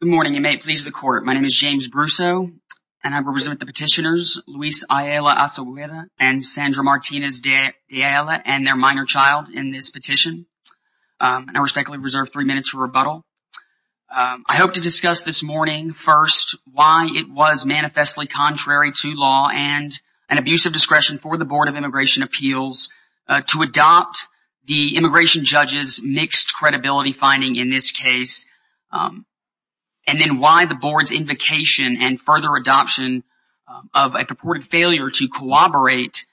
Good morning. You may please the court. My name is James Brussaux and I represent the petitioners Luis Ayala-Osegueda and Sandra Martinez de Ayala and their minor child in this petition. I respectfully reserve three minutes for rebuttal. I hope to discuss this morning first why it was manifestly contrary to law and an abuse of discretion for the finding in this case. And then why the board's invocation and further adoption of a purported failure to corroborate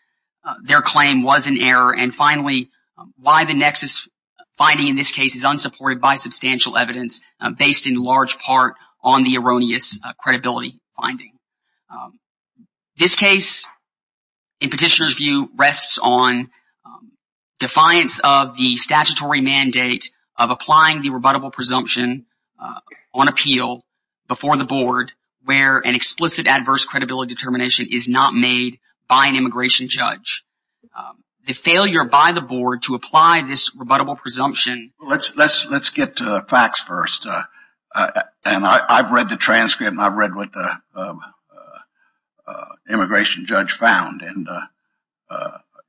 their claim was an error. And finally, why the nexus finding in this case is unsupported by substantial evidence based in large part on the erroneous credibility finding. This case in petitioners view rests on defiance of the statutory mandate of applying the rebuttable presumption on appeal before the board where an explicit adverse credibility determination is not made by an immigration judge. The failure by the board to apply this rebuttable presumption. Justice Breyer Let's get to the facts first. And I've read the transcript and I've read what the immigration judge found. And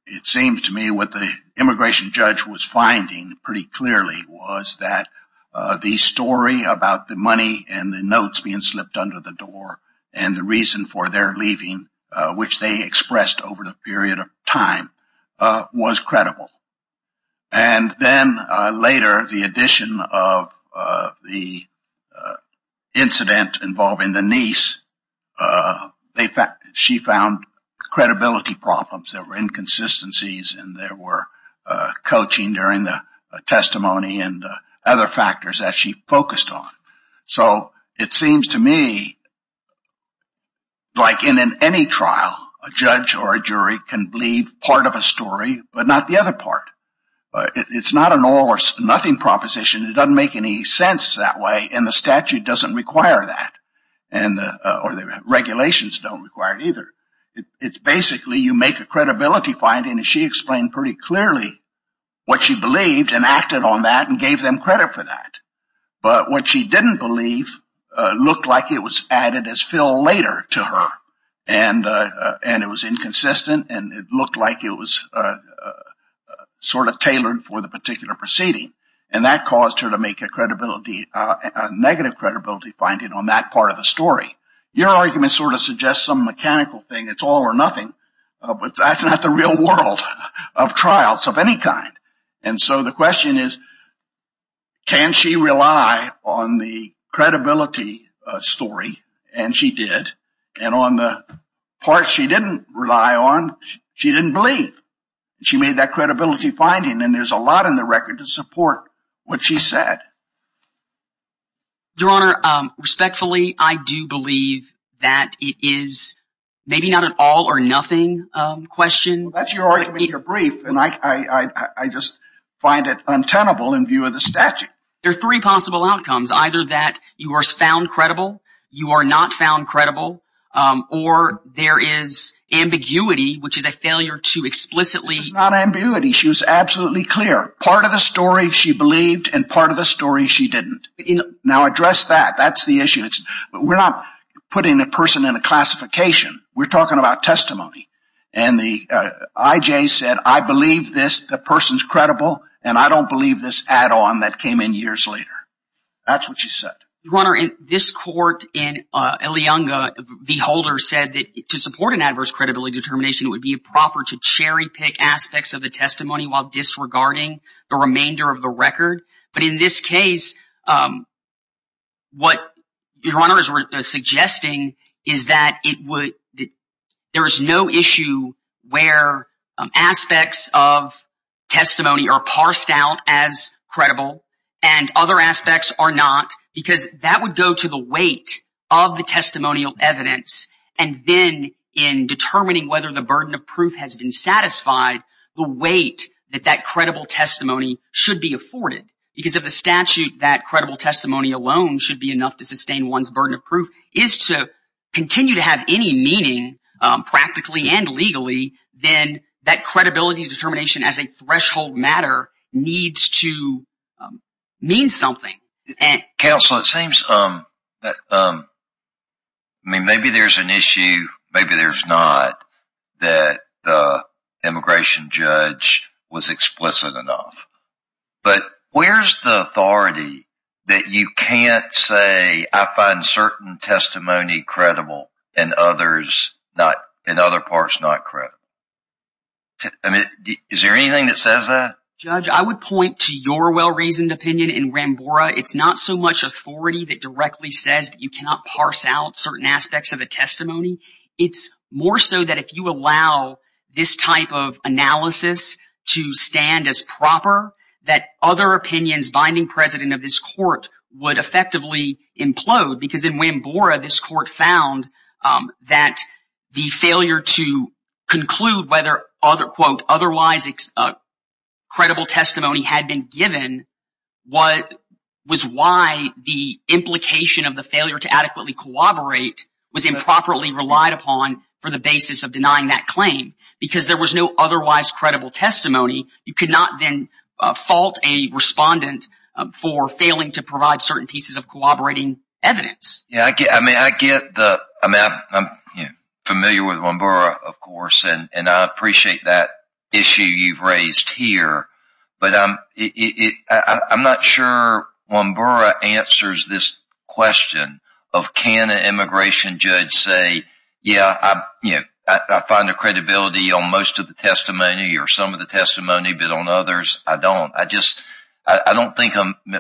it seems to me what the immigration judge was finding pretty clearly was that the story about the money and the notes being slipped under the door and the reason for their leaving, which they expressed over the period of time, was credible. And then later the addition of the incident involving the coaching during the testimony and other factors that she focused on. So it seems to me like in any trial, a judge or a jury can believe part of a story, but not the other part. It's not an all or nothing proposition. It doesn't make any sense that way. And the statute doesn't require that. And the regulations don't require it either. It's basically you make a credibility finding and she explained pretty clearly what she believed and acted on that and gave them credit for that. But what she didn't believe looked like it was added as fill later to her. And it was inconsistent and it looked like it was sort of tailored for the particular proceeding. And that caused her to make a credibility, a negative credibility finding on that part of the story. Your argument sort of suggests some mechanical thing. It's all or nothing. But that's not the real world of trials of any kind. And so the question is, can she rely on the credibility story? And she did. And on the part she didn't rely on, she didn't believe she made that credibility finding. And there's a lot in the record to support what she said. Your Honor, respectfully, I do believe that it is maybe not an all or nothing question. That's your argument. You're brief. And I just find it untenable in view of the statute. There are three possible outcomes, either that you are found credible, you are not found credible, or there is ambiguity, which is a failure to explicitly. This is not ambiguity. She was absolutely clear. Part of the story she believed and part of the story she didn't. Now address that. That's the issue. We're not putting a person in a testimony. And the IJ said, I believe this. The person's credible. And I don't believe this add-on that came in years later. That's what she said. Your Honor, in this court in Ilianga, the holder said that to support an adverse credibility determination, it would be proper to cherry pick aspects of the testimony while disregarding the remainder of the record. But in this case, what Your Honor is suggesting is that it would there is no issue where aspects of testimony are parsed out as credible and other aspects are not because that would go to the weight of the testimonial evidence. And then in determining whether the burden of proof has been satisfied, the weight that that credible testimony should be afforded. Because of the statute, that credible testimony alone should be enough to sustain one's burden of proof is to continue to have any meaning practically and legally. Then that credibility determination as a threshold matter needs to mean something. Counsel, it seems, I mean, maybe there's an issue, maybe there's not, that the immigration judge was explicit enough. But where's the authority that you can't say I find certain testimony credible and others, in other parts, not credible? I mean, is there anything that says that? Judge, I would point to your well-reasoned opinion in Wambora. It's not so much authority that directly says that you cannot parse out certain aspects of a testimony. It's more so that if you allow this type of analysis to stand as proper, that other opinions binding precedent of this court would effectively implode. Because in Wambora, this court found that the failure to conclude whether otherwise credible testimony had been given was why the implication of the failure to adequately corroborate was improperly relied upon for the basis of denying that claim. Because there was no otherwise credible testimony, you could not then fault a respondent for failing to provide certain pieces of corroborating evidence. Yeah, I get, I mean, I get the, I'm familiar with Wambora, of course, and I appreciate that issue you've raised here. But I'm not sure Wambora answers this question of can an immigration judge say, yeah, I find the credibility on most of the testimony or some of the testimony, but on others, I don't. I just, I don't think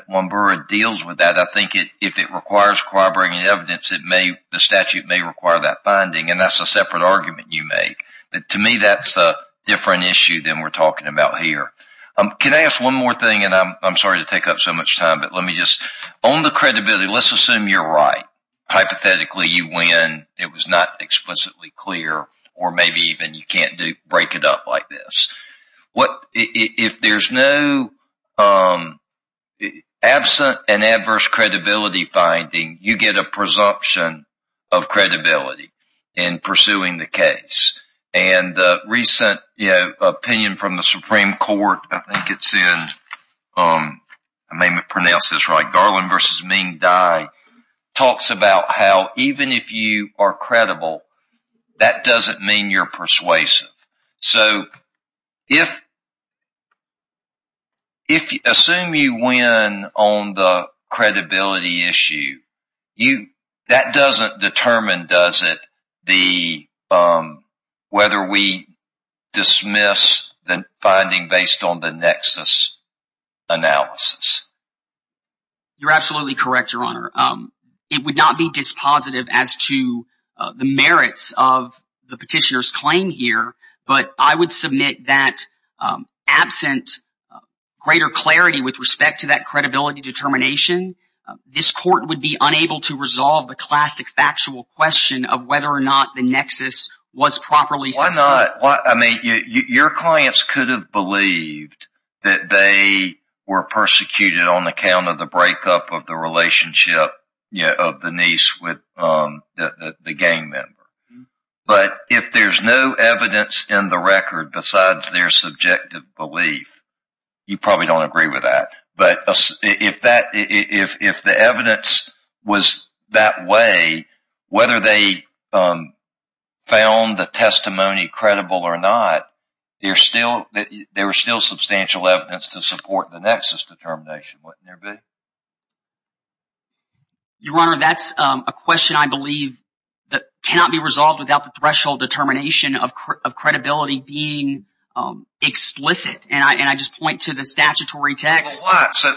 Wambora deals with that. I think it, if it requires corroborating evidence, it may, the statute may require that binding, and that's a separate argument you make. But to me, that's a different issue than we're talking about here. Can I ask one more thing, and I'm sorry to take up so much time, but let me just, on the credibility, let's assume you're right. Hypothetically, you win. It was not explicitly clear, or maybe even you can't do, break it up like this. If there's no absent and adverse credibility finding, you get a presumption of credibility in pursuing the case. And the recent, you know, opinion from the Supreme Court, I think it's in, I may not pronounce this right, Garland v. Ming Dai talks about how even if you are credible, that doesn't mean you're persuasive. So, if, if, assume you win on the credibility issue, you, that doesn't determine, does it, the, whether we dismiss the finding based on the nexus analysis. You're absolutely correct, Your Honor. It would not be dispositive as to the merits of the petitioner's claim here, but I would submit that absent greater clarity with respect to that credibility determination, this court would be unable to resolve the classic factual question of whether or not the nexus was properly sustained. Why not? I mean, your clients could have believed that they were persecuted on account of the breakup of the relationship, you know, of the niece with the gang member. But if there's no evidence in the record besides their subjective belief, you probably don't agree with that. But if that, if the evidence was that way, whether they found the testimony credible or not, there's still, there's still substantial evidence to support the nexus determination, wouldn't there be? Your Honor, that's a question I believe that cannot be resolved without the threshold determination of credibility being explicit. And I, and I just point to the statutory text. So,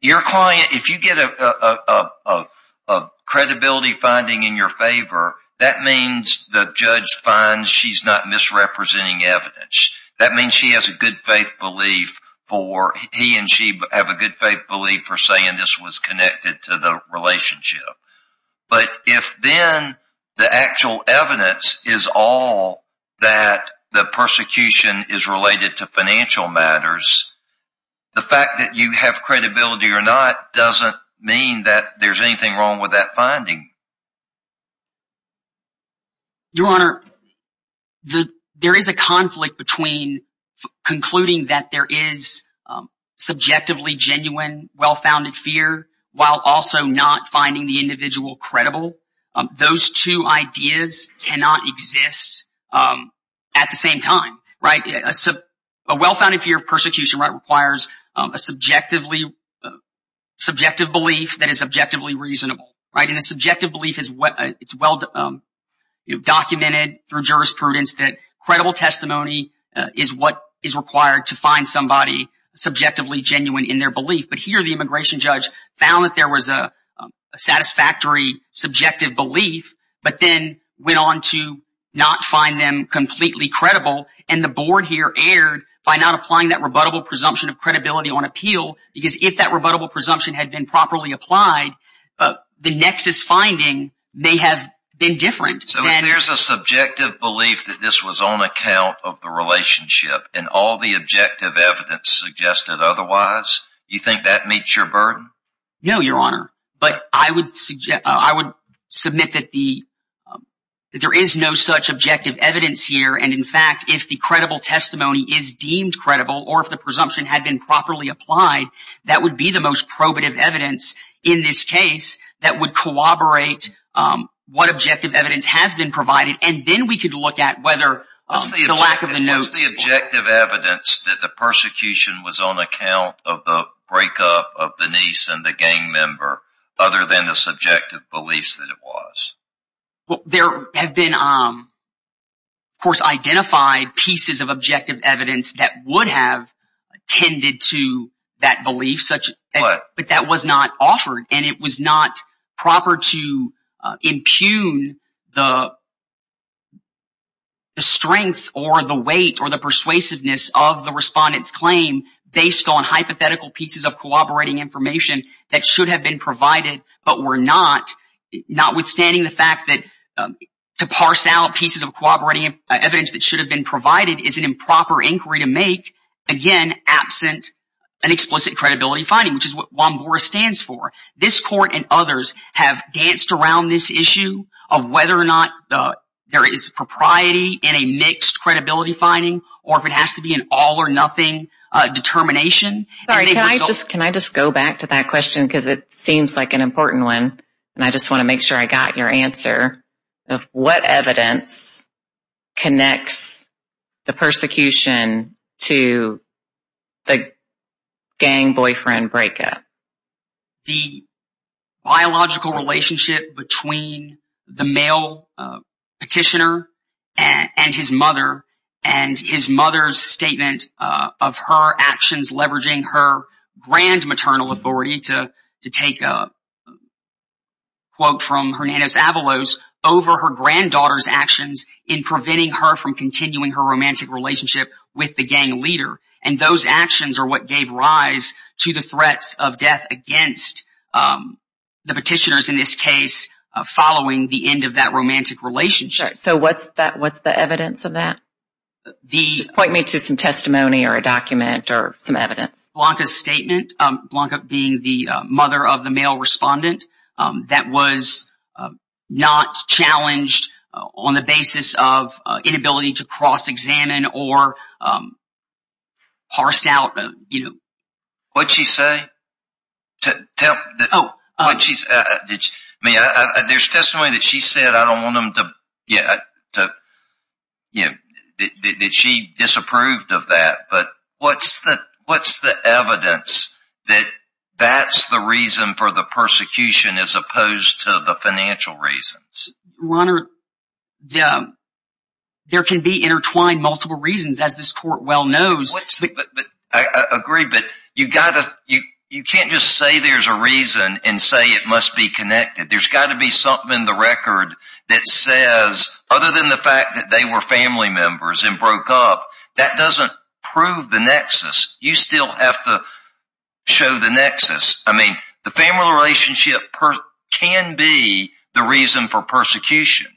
your client, if you get a, a, a, a, a credibility finding in your favor, that means the judge finds she's not misrepresenting evidence. That means she has a good faith belief for, he and she have a good faith belief for saying this was connected to the relationship. But if then the actual evidence is all that the persecution is related to financial matters, the fact that you have credibility or not doesn't mean that there's anything wrong with that finding. Your Honor, the, there is a conflict between concluding that there is subjectively genuine well-founded fear while also not finding the individual credible. Those two ideas cannot exist at the same time, right? A well-founded fear of persecution requires a subjectively, subjective belief that is objectively reasonable, right? And the subjective belief is what, it's well, you know, documented through jurisprudence that credible testimony is what is required to find somebody subjectively genuine in their belief. But here, the immigration judge found that there was a satisfactory subjective belief, but then went on to not find them completely credible. And the board here erred by not applying that rebuttable presumption of presumption had been properly applied, but the nexus finding may have been different. So if there's a subjective belief that this was on account of the relationship and all the objective evidence suggested otherwise, you think that meets your burden? No, Your Honor. But I would suggest, I would submit that the, that there is no such objective evidence here. And in fact, if the credible testimony is deemed credible, or if the most probative evidence in this case that would corroborate what objective evidence has been provided, and then we could look at whether the lack of the notes... What's the objective evidence that the persecution was on account of the breakup of the niece and the gang member, other than the subjective beliefs that it was? Well, there have been, of course, identified pieces of objective evidence that would have tended to that belief, but that was not offered. And it was not proper to impugn the strength or the weight or the persuasiveness of the respondent's claim based on hypothetical pieces of cooperating information that should have been provided, but were not. Notwithstanding the fact that to parse out pieces of cooperating evidence that should have been provided is an absent, an explicit credibility finding, which is what Juan Boris stands for. This court and others have danced around this issue of whether or not there is propriety in a mixed credibility finding, or if it has to be an all or nothing determination. Sorry, can I just, can I just go back to that question? Because it seems like an important one, and I just want to make sure I got your answer of what evidence connects the persecution to the gang boyfriend breakup. The biological relationship between the male petitioner and his mother, and his mother's statement of her actions leveraging her grand maternal authority to take a quote from Hernandez-Avalos over her granddaughter's actions in preventing her from or what gave rise to the threats of death against the petitioners in this case following the end of that romantic relationship. So what's that, what's the evidence of that? Point me to some testimony or a document or some evidence. Blanca's statement, Blanca being the mother of the male respondent, that was not challenged on the basis of inability to cross examine or parsed out, you know. What'd she say? Tell, oh, I mean, there's testimony that she said I don't want them to, yeah, to, you know, that she disapproved of that. But what's the, what's the evidence that that's the reason for the persecution as opposed to the financial reasons? Your Honor, there can be intertwined multiple reasons, as this court well knows. I agree, but you gotta, you can't just say there's a reason and say it must be connected. There's got to be something in the record that says, other than the fact that they were family members and broke up, that doesn't prove the nexus. You still have to show the nexus. I mean, the family relationship can be the reason for persecution,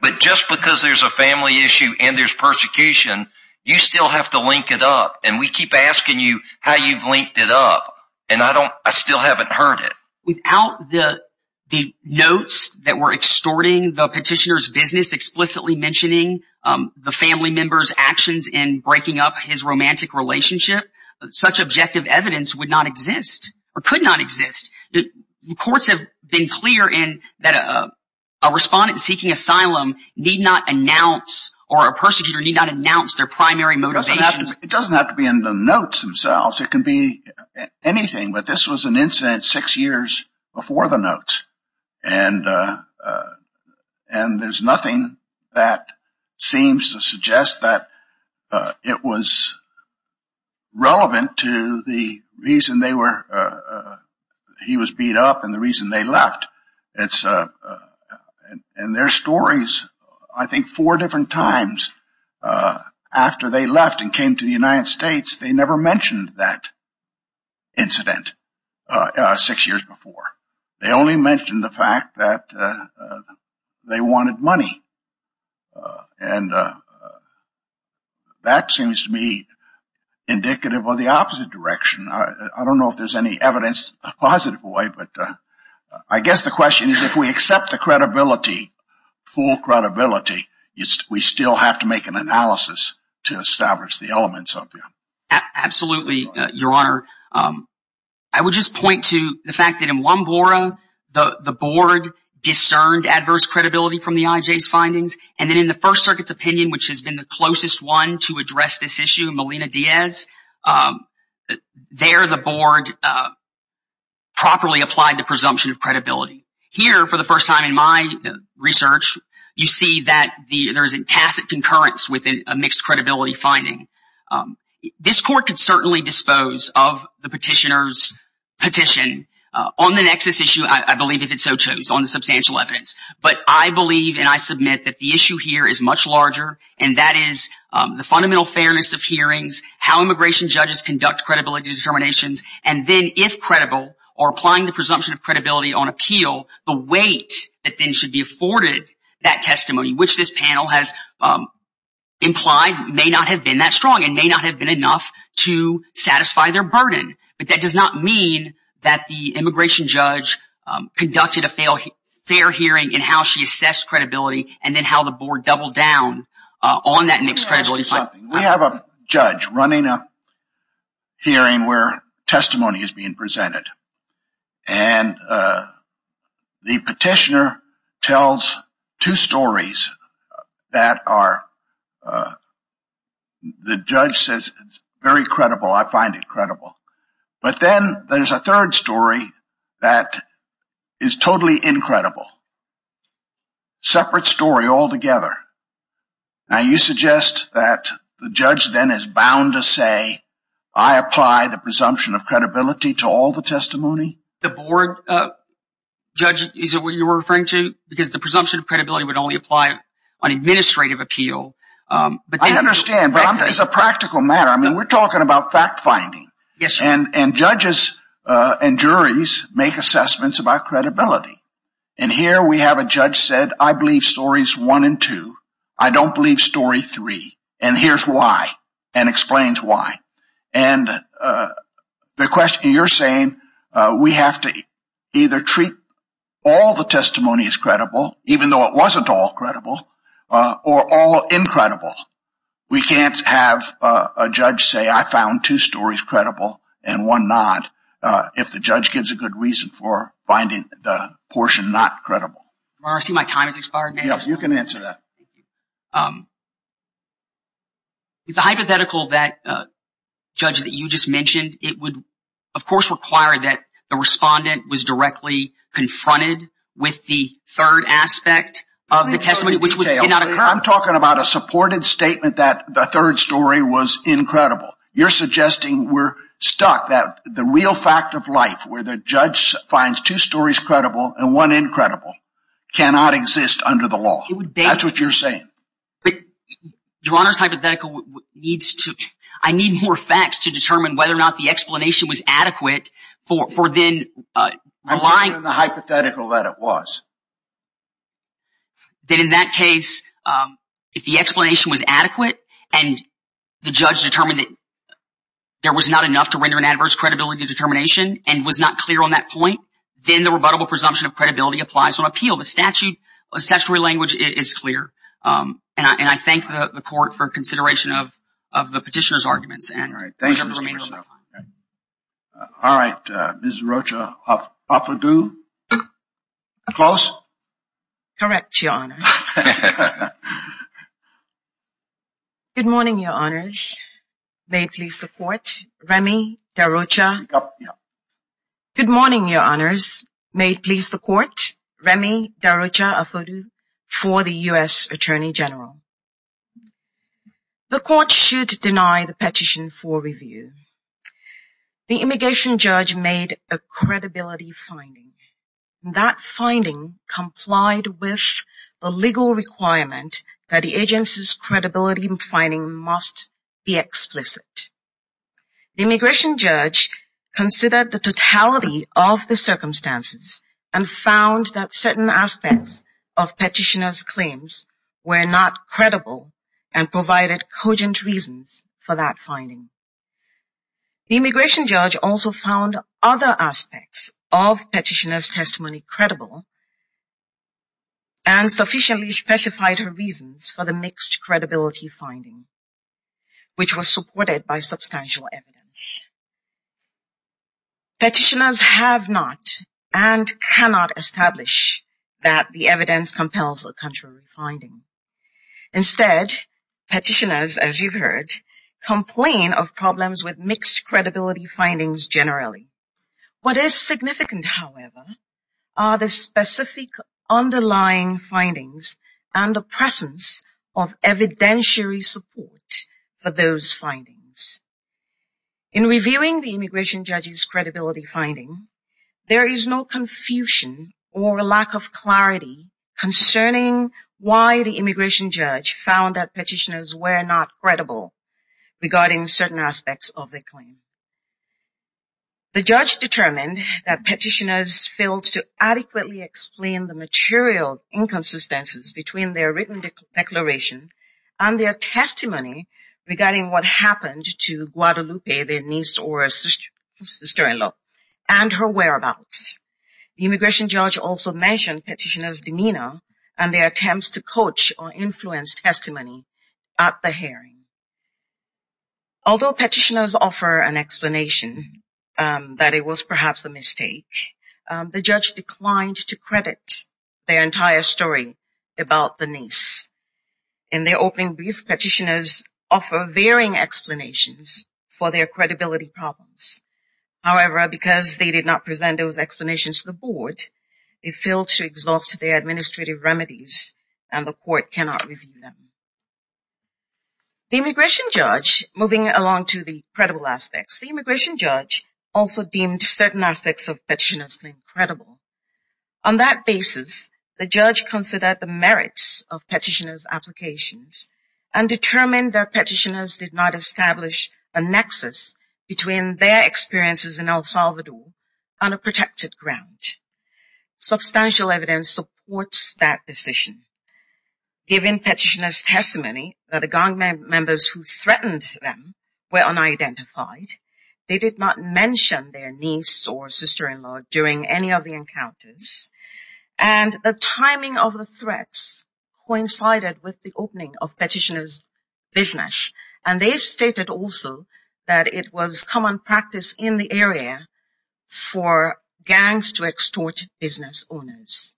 but just because there's a family issue and there's persecution, you still have to link it up. And we keep asking you how you've linked it up. And I don't, I still haven't heard it. Without the notes that were extorting the petitioner's business, explicitly mentioning the family member's actions in breaking up his romantic relationship, such objective evidence would not exist or could not exist. The courts have been clear in that a respondent seeking asylum need not announce or a persecutor need not announce their primary motivations. It doesn't have to be in the notes themselves. It can be anything, but this was an incident six years before the notes. And there's nothing that seems to suggest that it was in their stories. I think four different times after they left and came to the United States, they never mentioned that incident six years before. They only mentioned the fact that they wanted money. And that seems to me indicative of the opposite direction. I don't know if there's any evidence in a positive way, but I guess the question is, if we accept the credibility, full credibility, we still have to make an analysis to establish the elements of it. Absolutely, Your Honor. I would just point to the fact that in Lomboro, the board discerned adverse credibility from the IJ's findings. And then in the First Circuit's opinion, which has been the properly applied to presumption of credibility. Here, for the first time in my research, you see that there's a tacit concurrence within a mixed credibility finding. This court could certainly dispose of the petitioner's petition on the nexus issue, I believe, if it so chose, on the substantial evidence. But I believe and I submit that the issue here is much larger, and that is the fundamental fairness of hearings, how immigration judges conduct credibility determinations. And then if credible, or applying the presumption of credibility on appeal, the weight that then should be afforded that testimony, which this panel has implied may not have been that strong and may not have been enough to satisfy their burden. But that does not mean that the immigration judge conducted a fair hearing in how she assessed credibility and then how the board doubled down on that mixed credibility finding. We have a judge running a hearing where testimony is being presented. And the petitioner tells two stories that are, the judge says, very credible, I find it credible. But then there's a third story that is totally incredible. Separate story altogether. Now you suggest that the judge then is bound to say, I apply the presumption of credibility to all the testimony? The board judge, is it what you're referring to? Because the presumption of credibility would only apply on administrative appeal. I understand, but it's a practical matter. I mean, we're talking about fact finding. And judges and juries make assessments about I don't believe story three, and here's why, and explains why. And the question you're saying, we have to either treat all the testimonies credible, even though it wasn't all credible, or all incredible. We can't have a judge say, I found two stories credible and one not, if the judge gives a good reason for finding the portion not credible. Marcy, my time has expired. Yes, you can answer that. It's a hypothetical that, Judge, that you just mentioned, it would, of course, require that the respondent was directly confronted with the third aspect of the testimony, which did not occur. I'm talking about a supported statement that the third story was incredible. You're suggesting we're stuck, that the real fact of life, where the judge finds two stories credible and one incredible, cannot exist under the law. That's what you're saying. Your Honor's hypothetical needs to, I need more facts to determine whether or not the explanation was adequate for then relying on the hypothetical that it was. That in that case, if the explanation was adequate and the judge determined that there was not enough to render an adverse credibility determination and was not clear on that point, then the rebuttable presumption of credibility applies on appeal. The statutory language is clear, and I thank the court for consideration of the petitioner's arguments. All right, Ms. Rocha, offer due? Close? Correct, Your Honor. Good morning, Your Honors. May it please the Court. Remy Carrocha. Good morning, Your Honors. May it please the Court. Remy Carrocha, offer due? For the U.S. Attorney General. The Court should deny the petition for review. The immigration judge made a credibility finding. That finding complied with the legal requirement that the agency's considered the totality of the circumstances and found that certain aspects of petitioner's claims were not credible and provided cogent reasons for that finding. The immigration judge also found other aspects of petitioner's testimony credible and sufficiently specified her reasons for the mixed credibility finding, which was supported by substantial evidence. Petitioners have not and cannot establish that the evidence compels a contrary finding. Instead, petitioners, as you've heard, complain of problems with mixed credibility findings generally. What is significant, however, are the specific underlying findings and the presence of evidentiary support for those findings. In reviewing the immigration judge's credibility finding, there is no confusion or lack of clarity concerning why the immigration judge found that petitioners were not credible regarding certain aspects of the claim. The judge determined that petitioners failed to adequately explain the material inconsistencies between their written declaration and their testimony regarding what happened to Guadalupe, their niece or sister-in-law, and her whereabouts. The immigration judge also mentioned petitioner's demeanor and their attempts to coach or influence testimony at the hearing. Although petitioners offer an explanation that it was perhaps a mistake, the judge declined to credit their entire story about the niece. In their opening brief, petitioners offer varying explanations for their credibility problems. However, because they did not present those explanations to the board, they failed to exhaust their administrative remedies and the court cannot review them. The immigration judge, moving along to the credible. On that basis, the judge considered the merits of petitioner's applications and determined that petitioners did not establish a nexus between their experiences in El Salvador on a protected ground. Substantial evidence supports that decision. Given petitioner's testimony that the gang members who threatened them were unidentified, they did not mention their niece or sister-in-law during any of the encounters, and the timing of the threats coincided with the opening of petitioner's business. And they stated also that it was common practice in the area for gangs to extort business owners.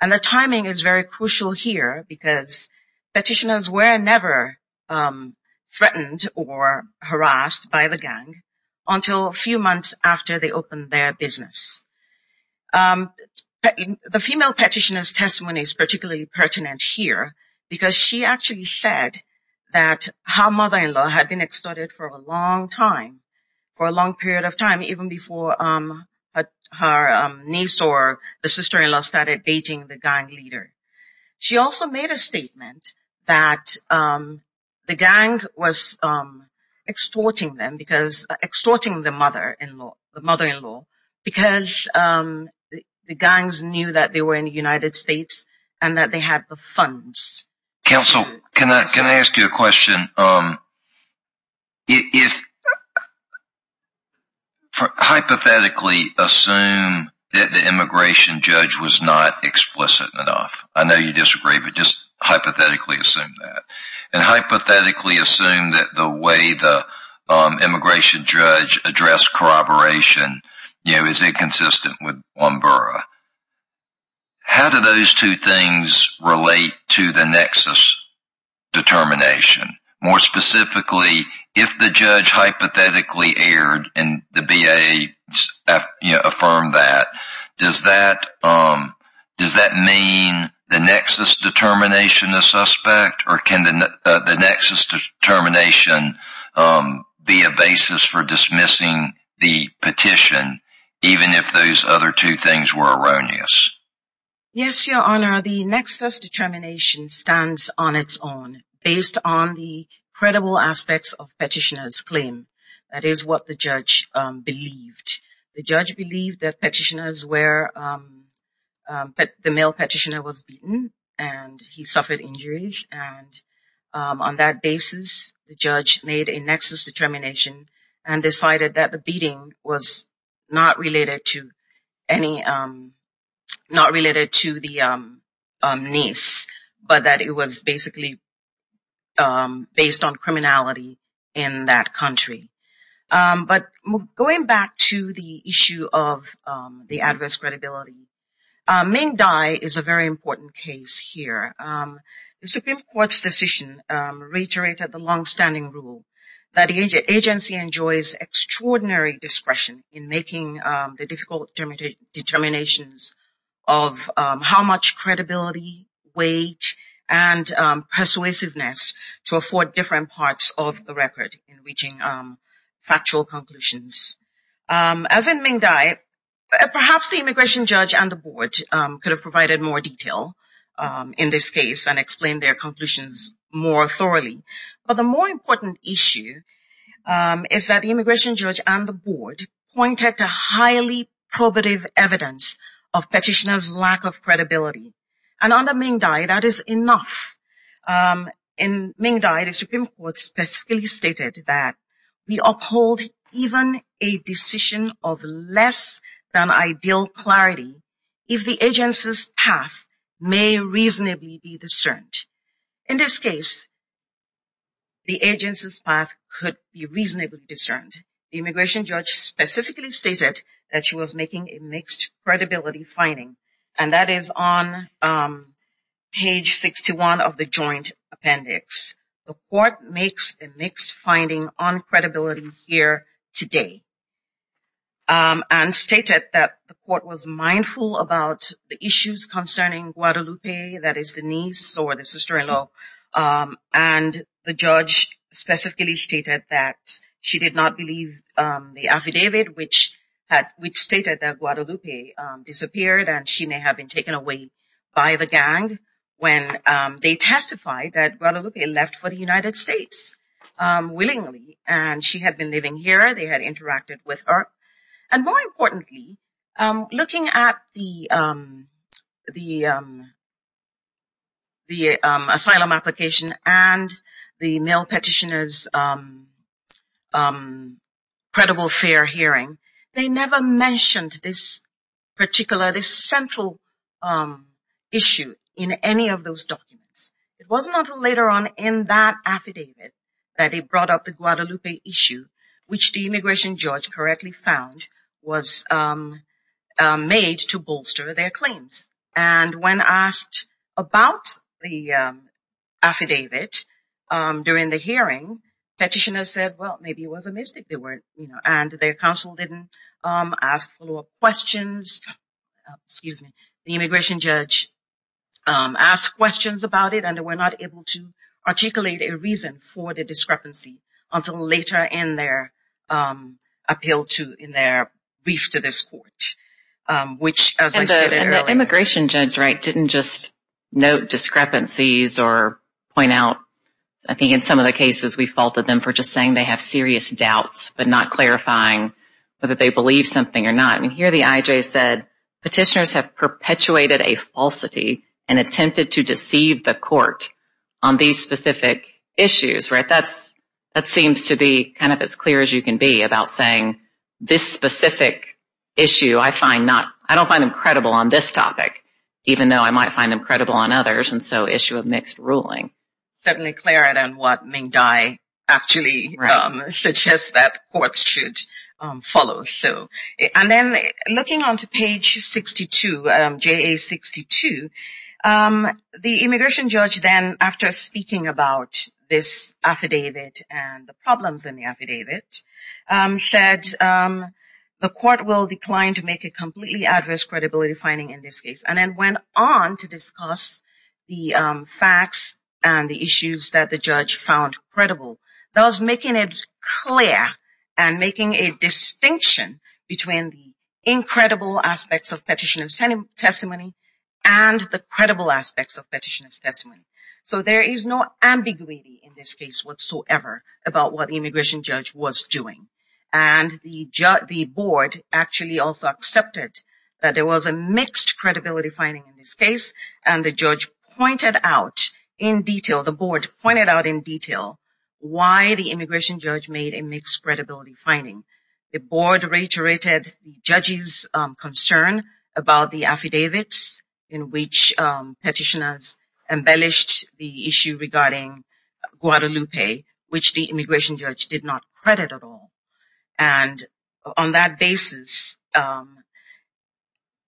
And the timing is very crucial here because petitioners were never threatened or harassed by the gang until a few months after they opened their business. The female petitioner's testimony is particularly pertinent here because she actually said that her mother-in-law had been extorted for a long time, for a long period of time, even before her niece or the sister-in-law started dating the gang leader. She also made a statement that the gang was extorting them, extorting the mother-in-law because the gangs knew that they were in the United States and that they had the funds. Counsel, can I ask you a question? Hypothetically assume that the immigration judge was not corroborating with one borough. How do those two things relate to the nexus determination? More specifically, if the judge hypothetically erred and the BIA affirmed that, does that mean the nexus determination a suspect or can the nexus determination be a basis for dismissing the petition even if those other two things were erroneous? Yes, Your Honor, the nexus determination stands on its own based on the credible aspects of petitioners' claim. That is what the judge believed. The judge believed that petitioners were, that the male petitioner was beaten and he suffered injuries. On that basis, the judge made a nexus determination and decided that the beating was not related to the niece, but that it was basically based on criminality in that country. But going back to the issue of the adverse credibility, Ming Dai is a very important case here. The Supreme Court's decision reiterated the longstanding rule that the agency enjoys extraordinary discretion in making the difficult determinations of how much credibility, weight, and persuasiveness to afford different parts of the record in reaching factual conclusions. As in Ming Dai, perhaps the immigration judge and the board could have provided more detail in this case and explained their conclusions more thoroughly. But the more important issue is that the immigration judge and the board pointed to highly probative evidence of petitioners' lack of credibility. And under Ming Dai, that is enough. In Ming Dai, the Supreme Court specifically stated that we uphold even a decision of less than ideal clarity if the agency's path may reasonably be discerned. In this case, the agency's path could be reasonably discerned. The immigration judge specifically stated that she was making a mixed credibility finding, and that is on page 61 of the joint appendix. The court makes a mixed finding on credibility here today and stated that the court was mindful about the issues concerning Guadalupe, that is the niece or the sister-in-law. And the judge specifically stated that she did not believe the affidavit which stated that Guadalupe disappeared and she may have been taken away by the gang when they testified that Guadalupe left for the United States willingly. And she had been living here. They had interacted with her. And more importantly, looking at the asylum application and the male petitioners' credible fair hearing, they never mentioned this particular, this central issue in any of those documents. It was not until later on in that affidavit that they brought up the Guadalupe issue, which the immigration judge correctly found was made to bolster their claims. And when asked about the affidavit during the hearing, petitioners said, well, maybe it was a mistake. And their counsel didn't ask follow-up questions. The immigration judge asked questions about it and they were not able to articulate a reason for the discrepancy until later in their appeal to, in their brief to this court, which as I said earlier... And the immigration judge didn't just note discrepancies or point out, I think in some of the cases we faulted them for just saying they have serious doubts but not clarifying whether they believe something or not. And here the IJ said, petitioners have perpetuated a kind of as clear as you can be about saying this specific issue, I find not, I don't find them credible on this topic, even though I might find them credible on others. And so issue of mixed ruling. Certainly clearer than what Ming Dai actually suggests that courts should follow. And then looking onto page 62, JA62, the immigration judge then after speaking about this affidavit and the problems in the affidavit, said the court will decline to make a completely adverse credibility finding in this case. And then went on to discuss the facts and the issues that the judge found credible. Thus making it clear and making a distinction between the incredible aspects of petitioner's testimony and the credible aspects of petitioner's testimony. So there is no ambiguity in this case whatsoever about what the immigration judge was doing. And the board actually also accepted that there was a mixed credibility finding in this case and the judge pointed out in detail, the board pointed out in detail, why the immigration judge made a mixed credibility finding. The board reiterated the judge's concern about the affidavits in which petitioners embellished the issue regarding Guadalupe, which the immigration judge did not credit at all. And on that basis,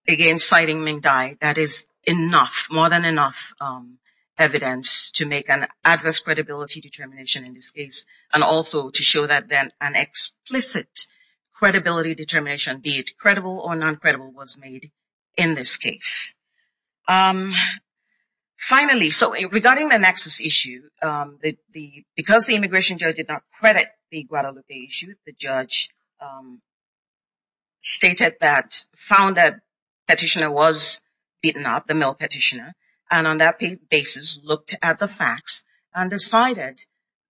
again, citing Ming Dai, that is enough, more than enough evidence to make an adverse credibility determination in this case. And also to show that an explicit credibility determination, be it credible or non-credible, was made in this case. Finally, so regarding the nexus issue, because the immigration judge did not credit the Guadalupe issue, the judge stated that, found that petitioner was beaten up, the male petitioner, and on that basis looked at the facts and decided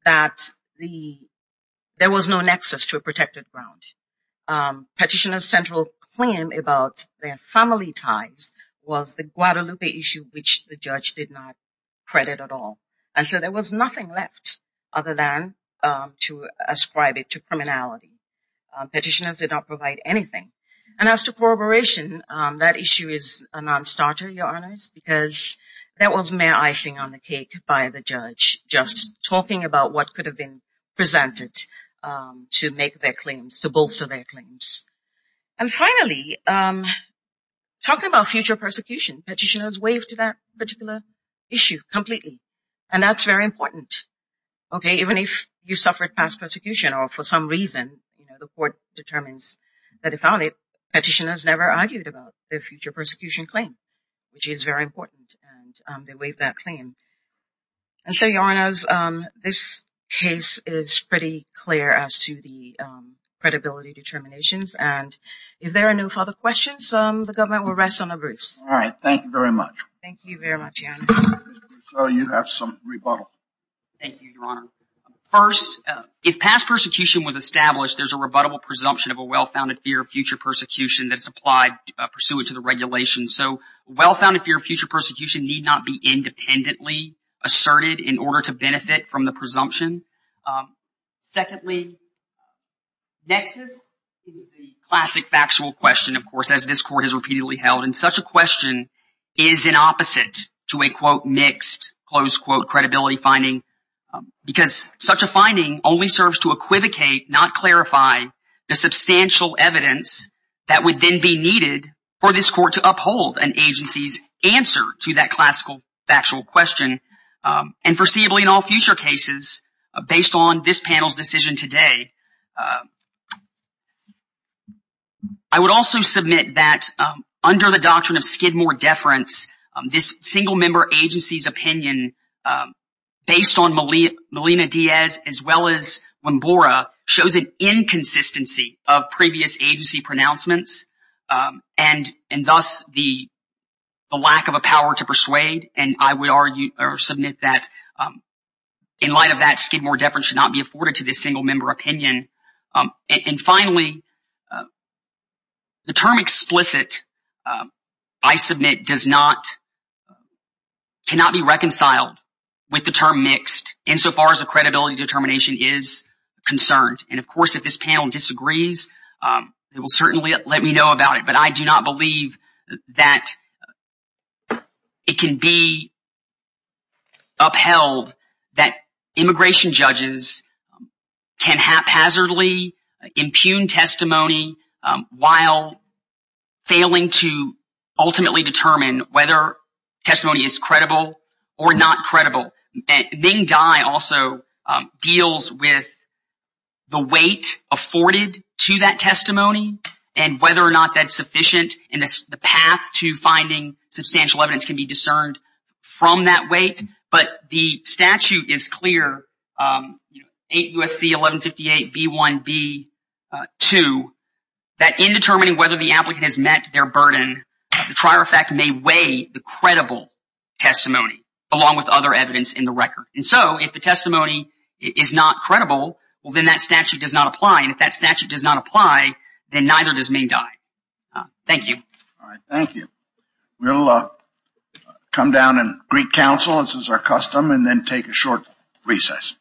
that there was no nexus to a protected ground. Petitioner's central claim about their family ties was the Guadalupe issue, which the judge did not credit at all. And so there was nothing left other than to ascribe it to criminality. Petitioners did not provide anything. And as to corroboration, that issue is a non-starter, Your Honors, because that was mere icing on the cake by the judge, just talking about what could have been presented to make their claims, to bolster their claims. And finally, talking about future persecution, petitioners waved to that particular issue completely. And that's very important. Okay, even if you suffered past persecution or for some reason, you know, the court determines that if found it, petitioners never argued about their future persecution claim, which is very important. And they waved that claim. And so, Your Honors, this case is pretty clear as to the credibility determinations. And if there are no further questions, the government will rest on their briefs. All right. Thank you very much. Thank you very much, Your Honors. So you have some rebuttal. Thank you, Your Honor. First, if past persecution was established, there's a rebuttable presumption of a well-founded fear of future persecution that's applied pursuant to the regulation. So well-founded fear of future persecution need not be independently asserted in order to benefit from the presumption. Secondly, nexus is the classic factual question, of course, as this court has repeatedly held. And such a question is an opposite to a, quote, mixed, close quote, credibility finding, because such a finding only serves to equivocate, not clarify, the substantial evidence that would then be needed for this court to uphold an agency's answer to that classical factual question, and foreseeably in all future cases, based on this panel's decision today. I would also submit that under the doctrine of Skidmore Deference, this single-member agency's opinion, based on Melina Diaz as well as Wimbora, shows an inconsistency of previous agency pronouncements, and thus the lack of a power to persuade. And I would argue or submit that in light of that, Skidmore Deference should not be does not, cannot be reconciled with the term mixed, insofar as the credibility determination is concerned. And of course, if this panel disagrees, they will certainly let me know about it, but I do not believe that it can be upheld that immigration judges can haphazardly impugn testimony while failing to ultimately determine whether testimony is credible or not credible. Ming Dai also deals with the weight afforded to that testimony, and whether or not that's sufficient, and the path to finding substantial evidence can be discerned from that weight. But the statute is clear, you know, 8 U.S.C. 1158 B1 B2, that in determining whether the applicant has met their burden, the trier of fact may weigh the credible testimony, along with other evidence in the record. And so, if the testimony is not credible, well then that statute does not apply, and if that statute does not apply, then neither does Ming Dai. Thank you. All right, thank you. We'll come down and greet counsel, as is our custom, and then take a short recess.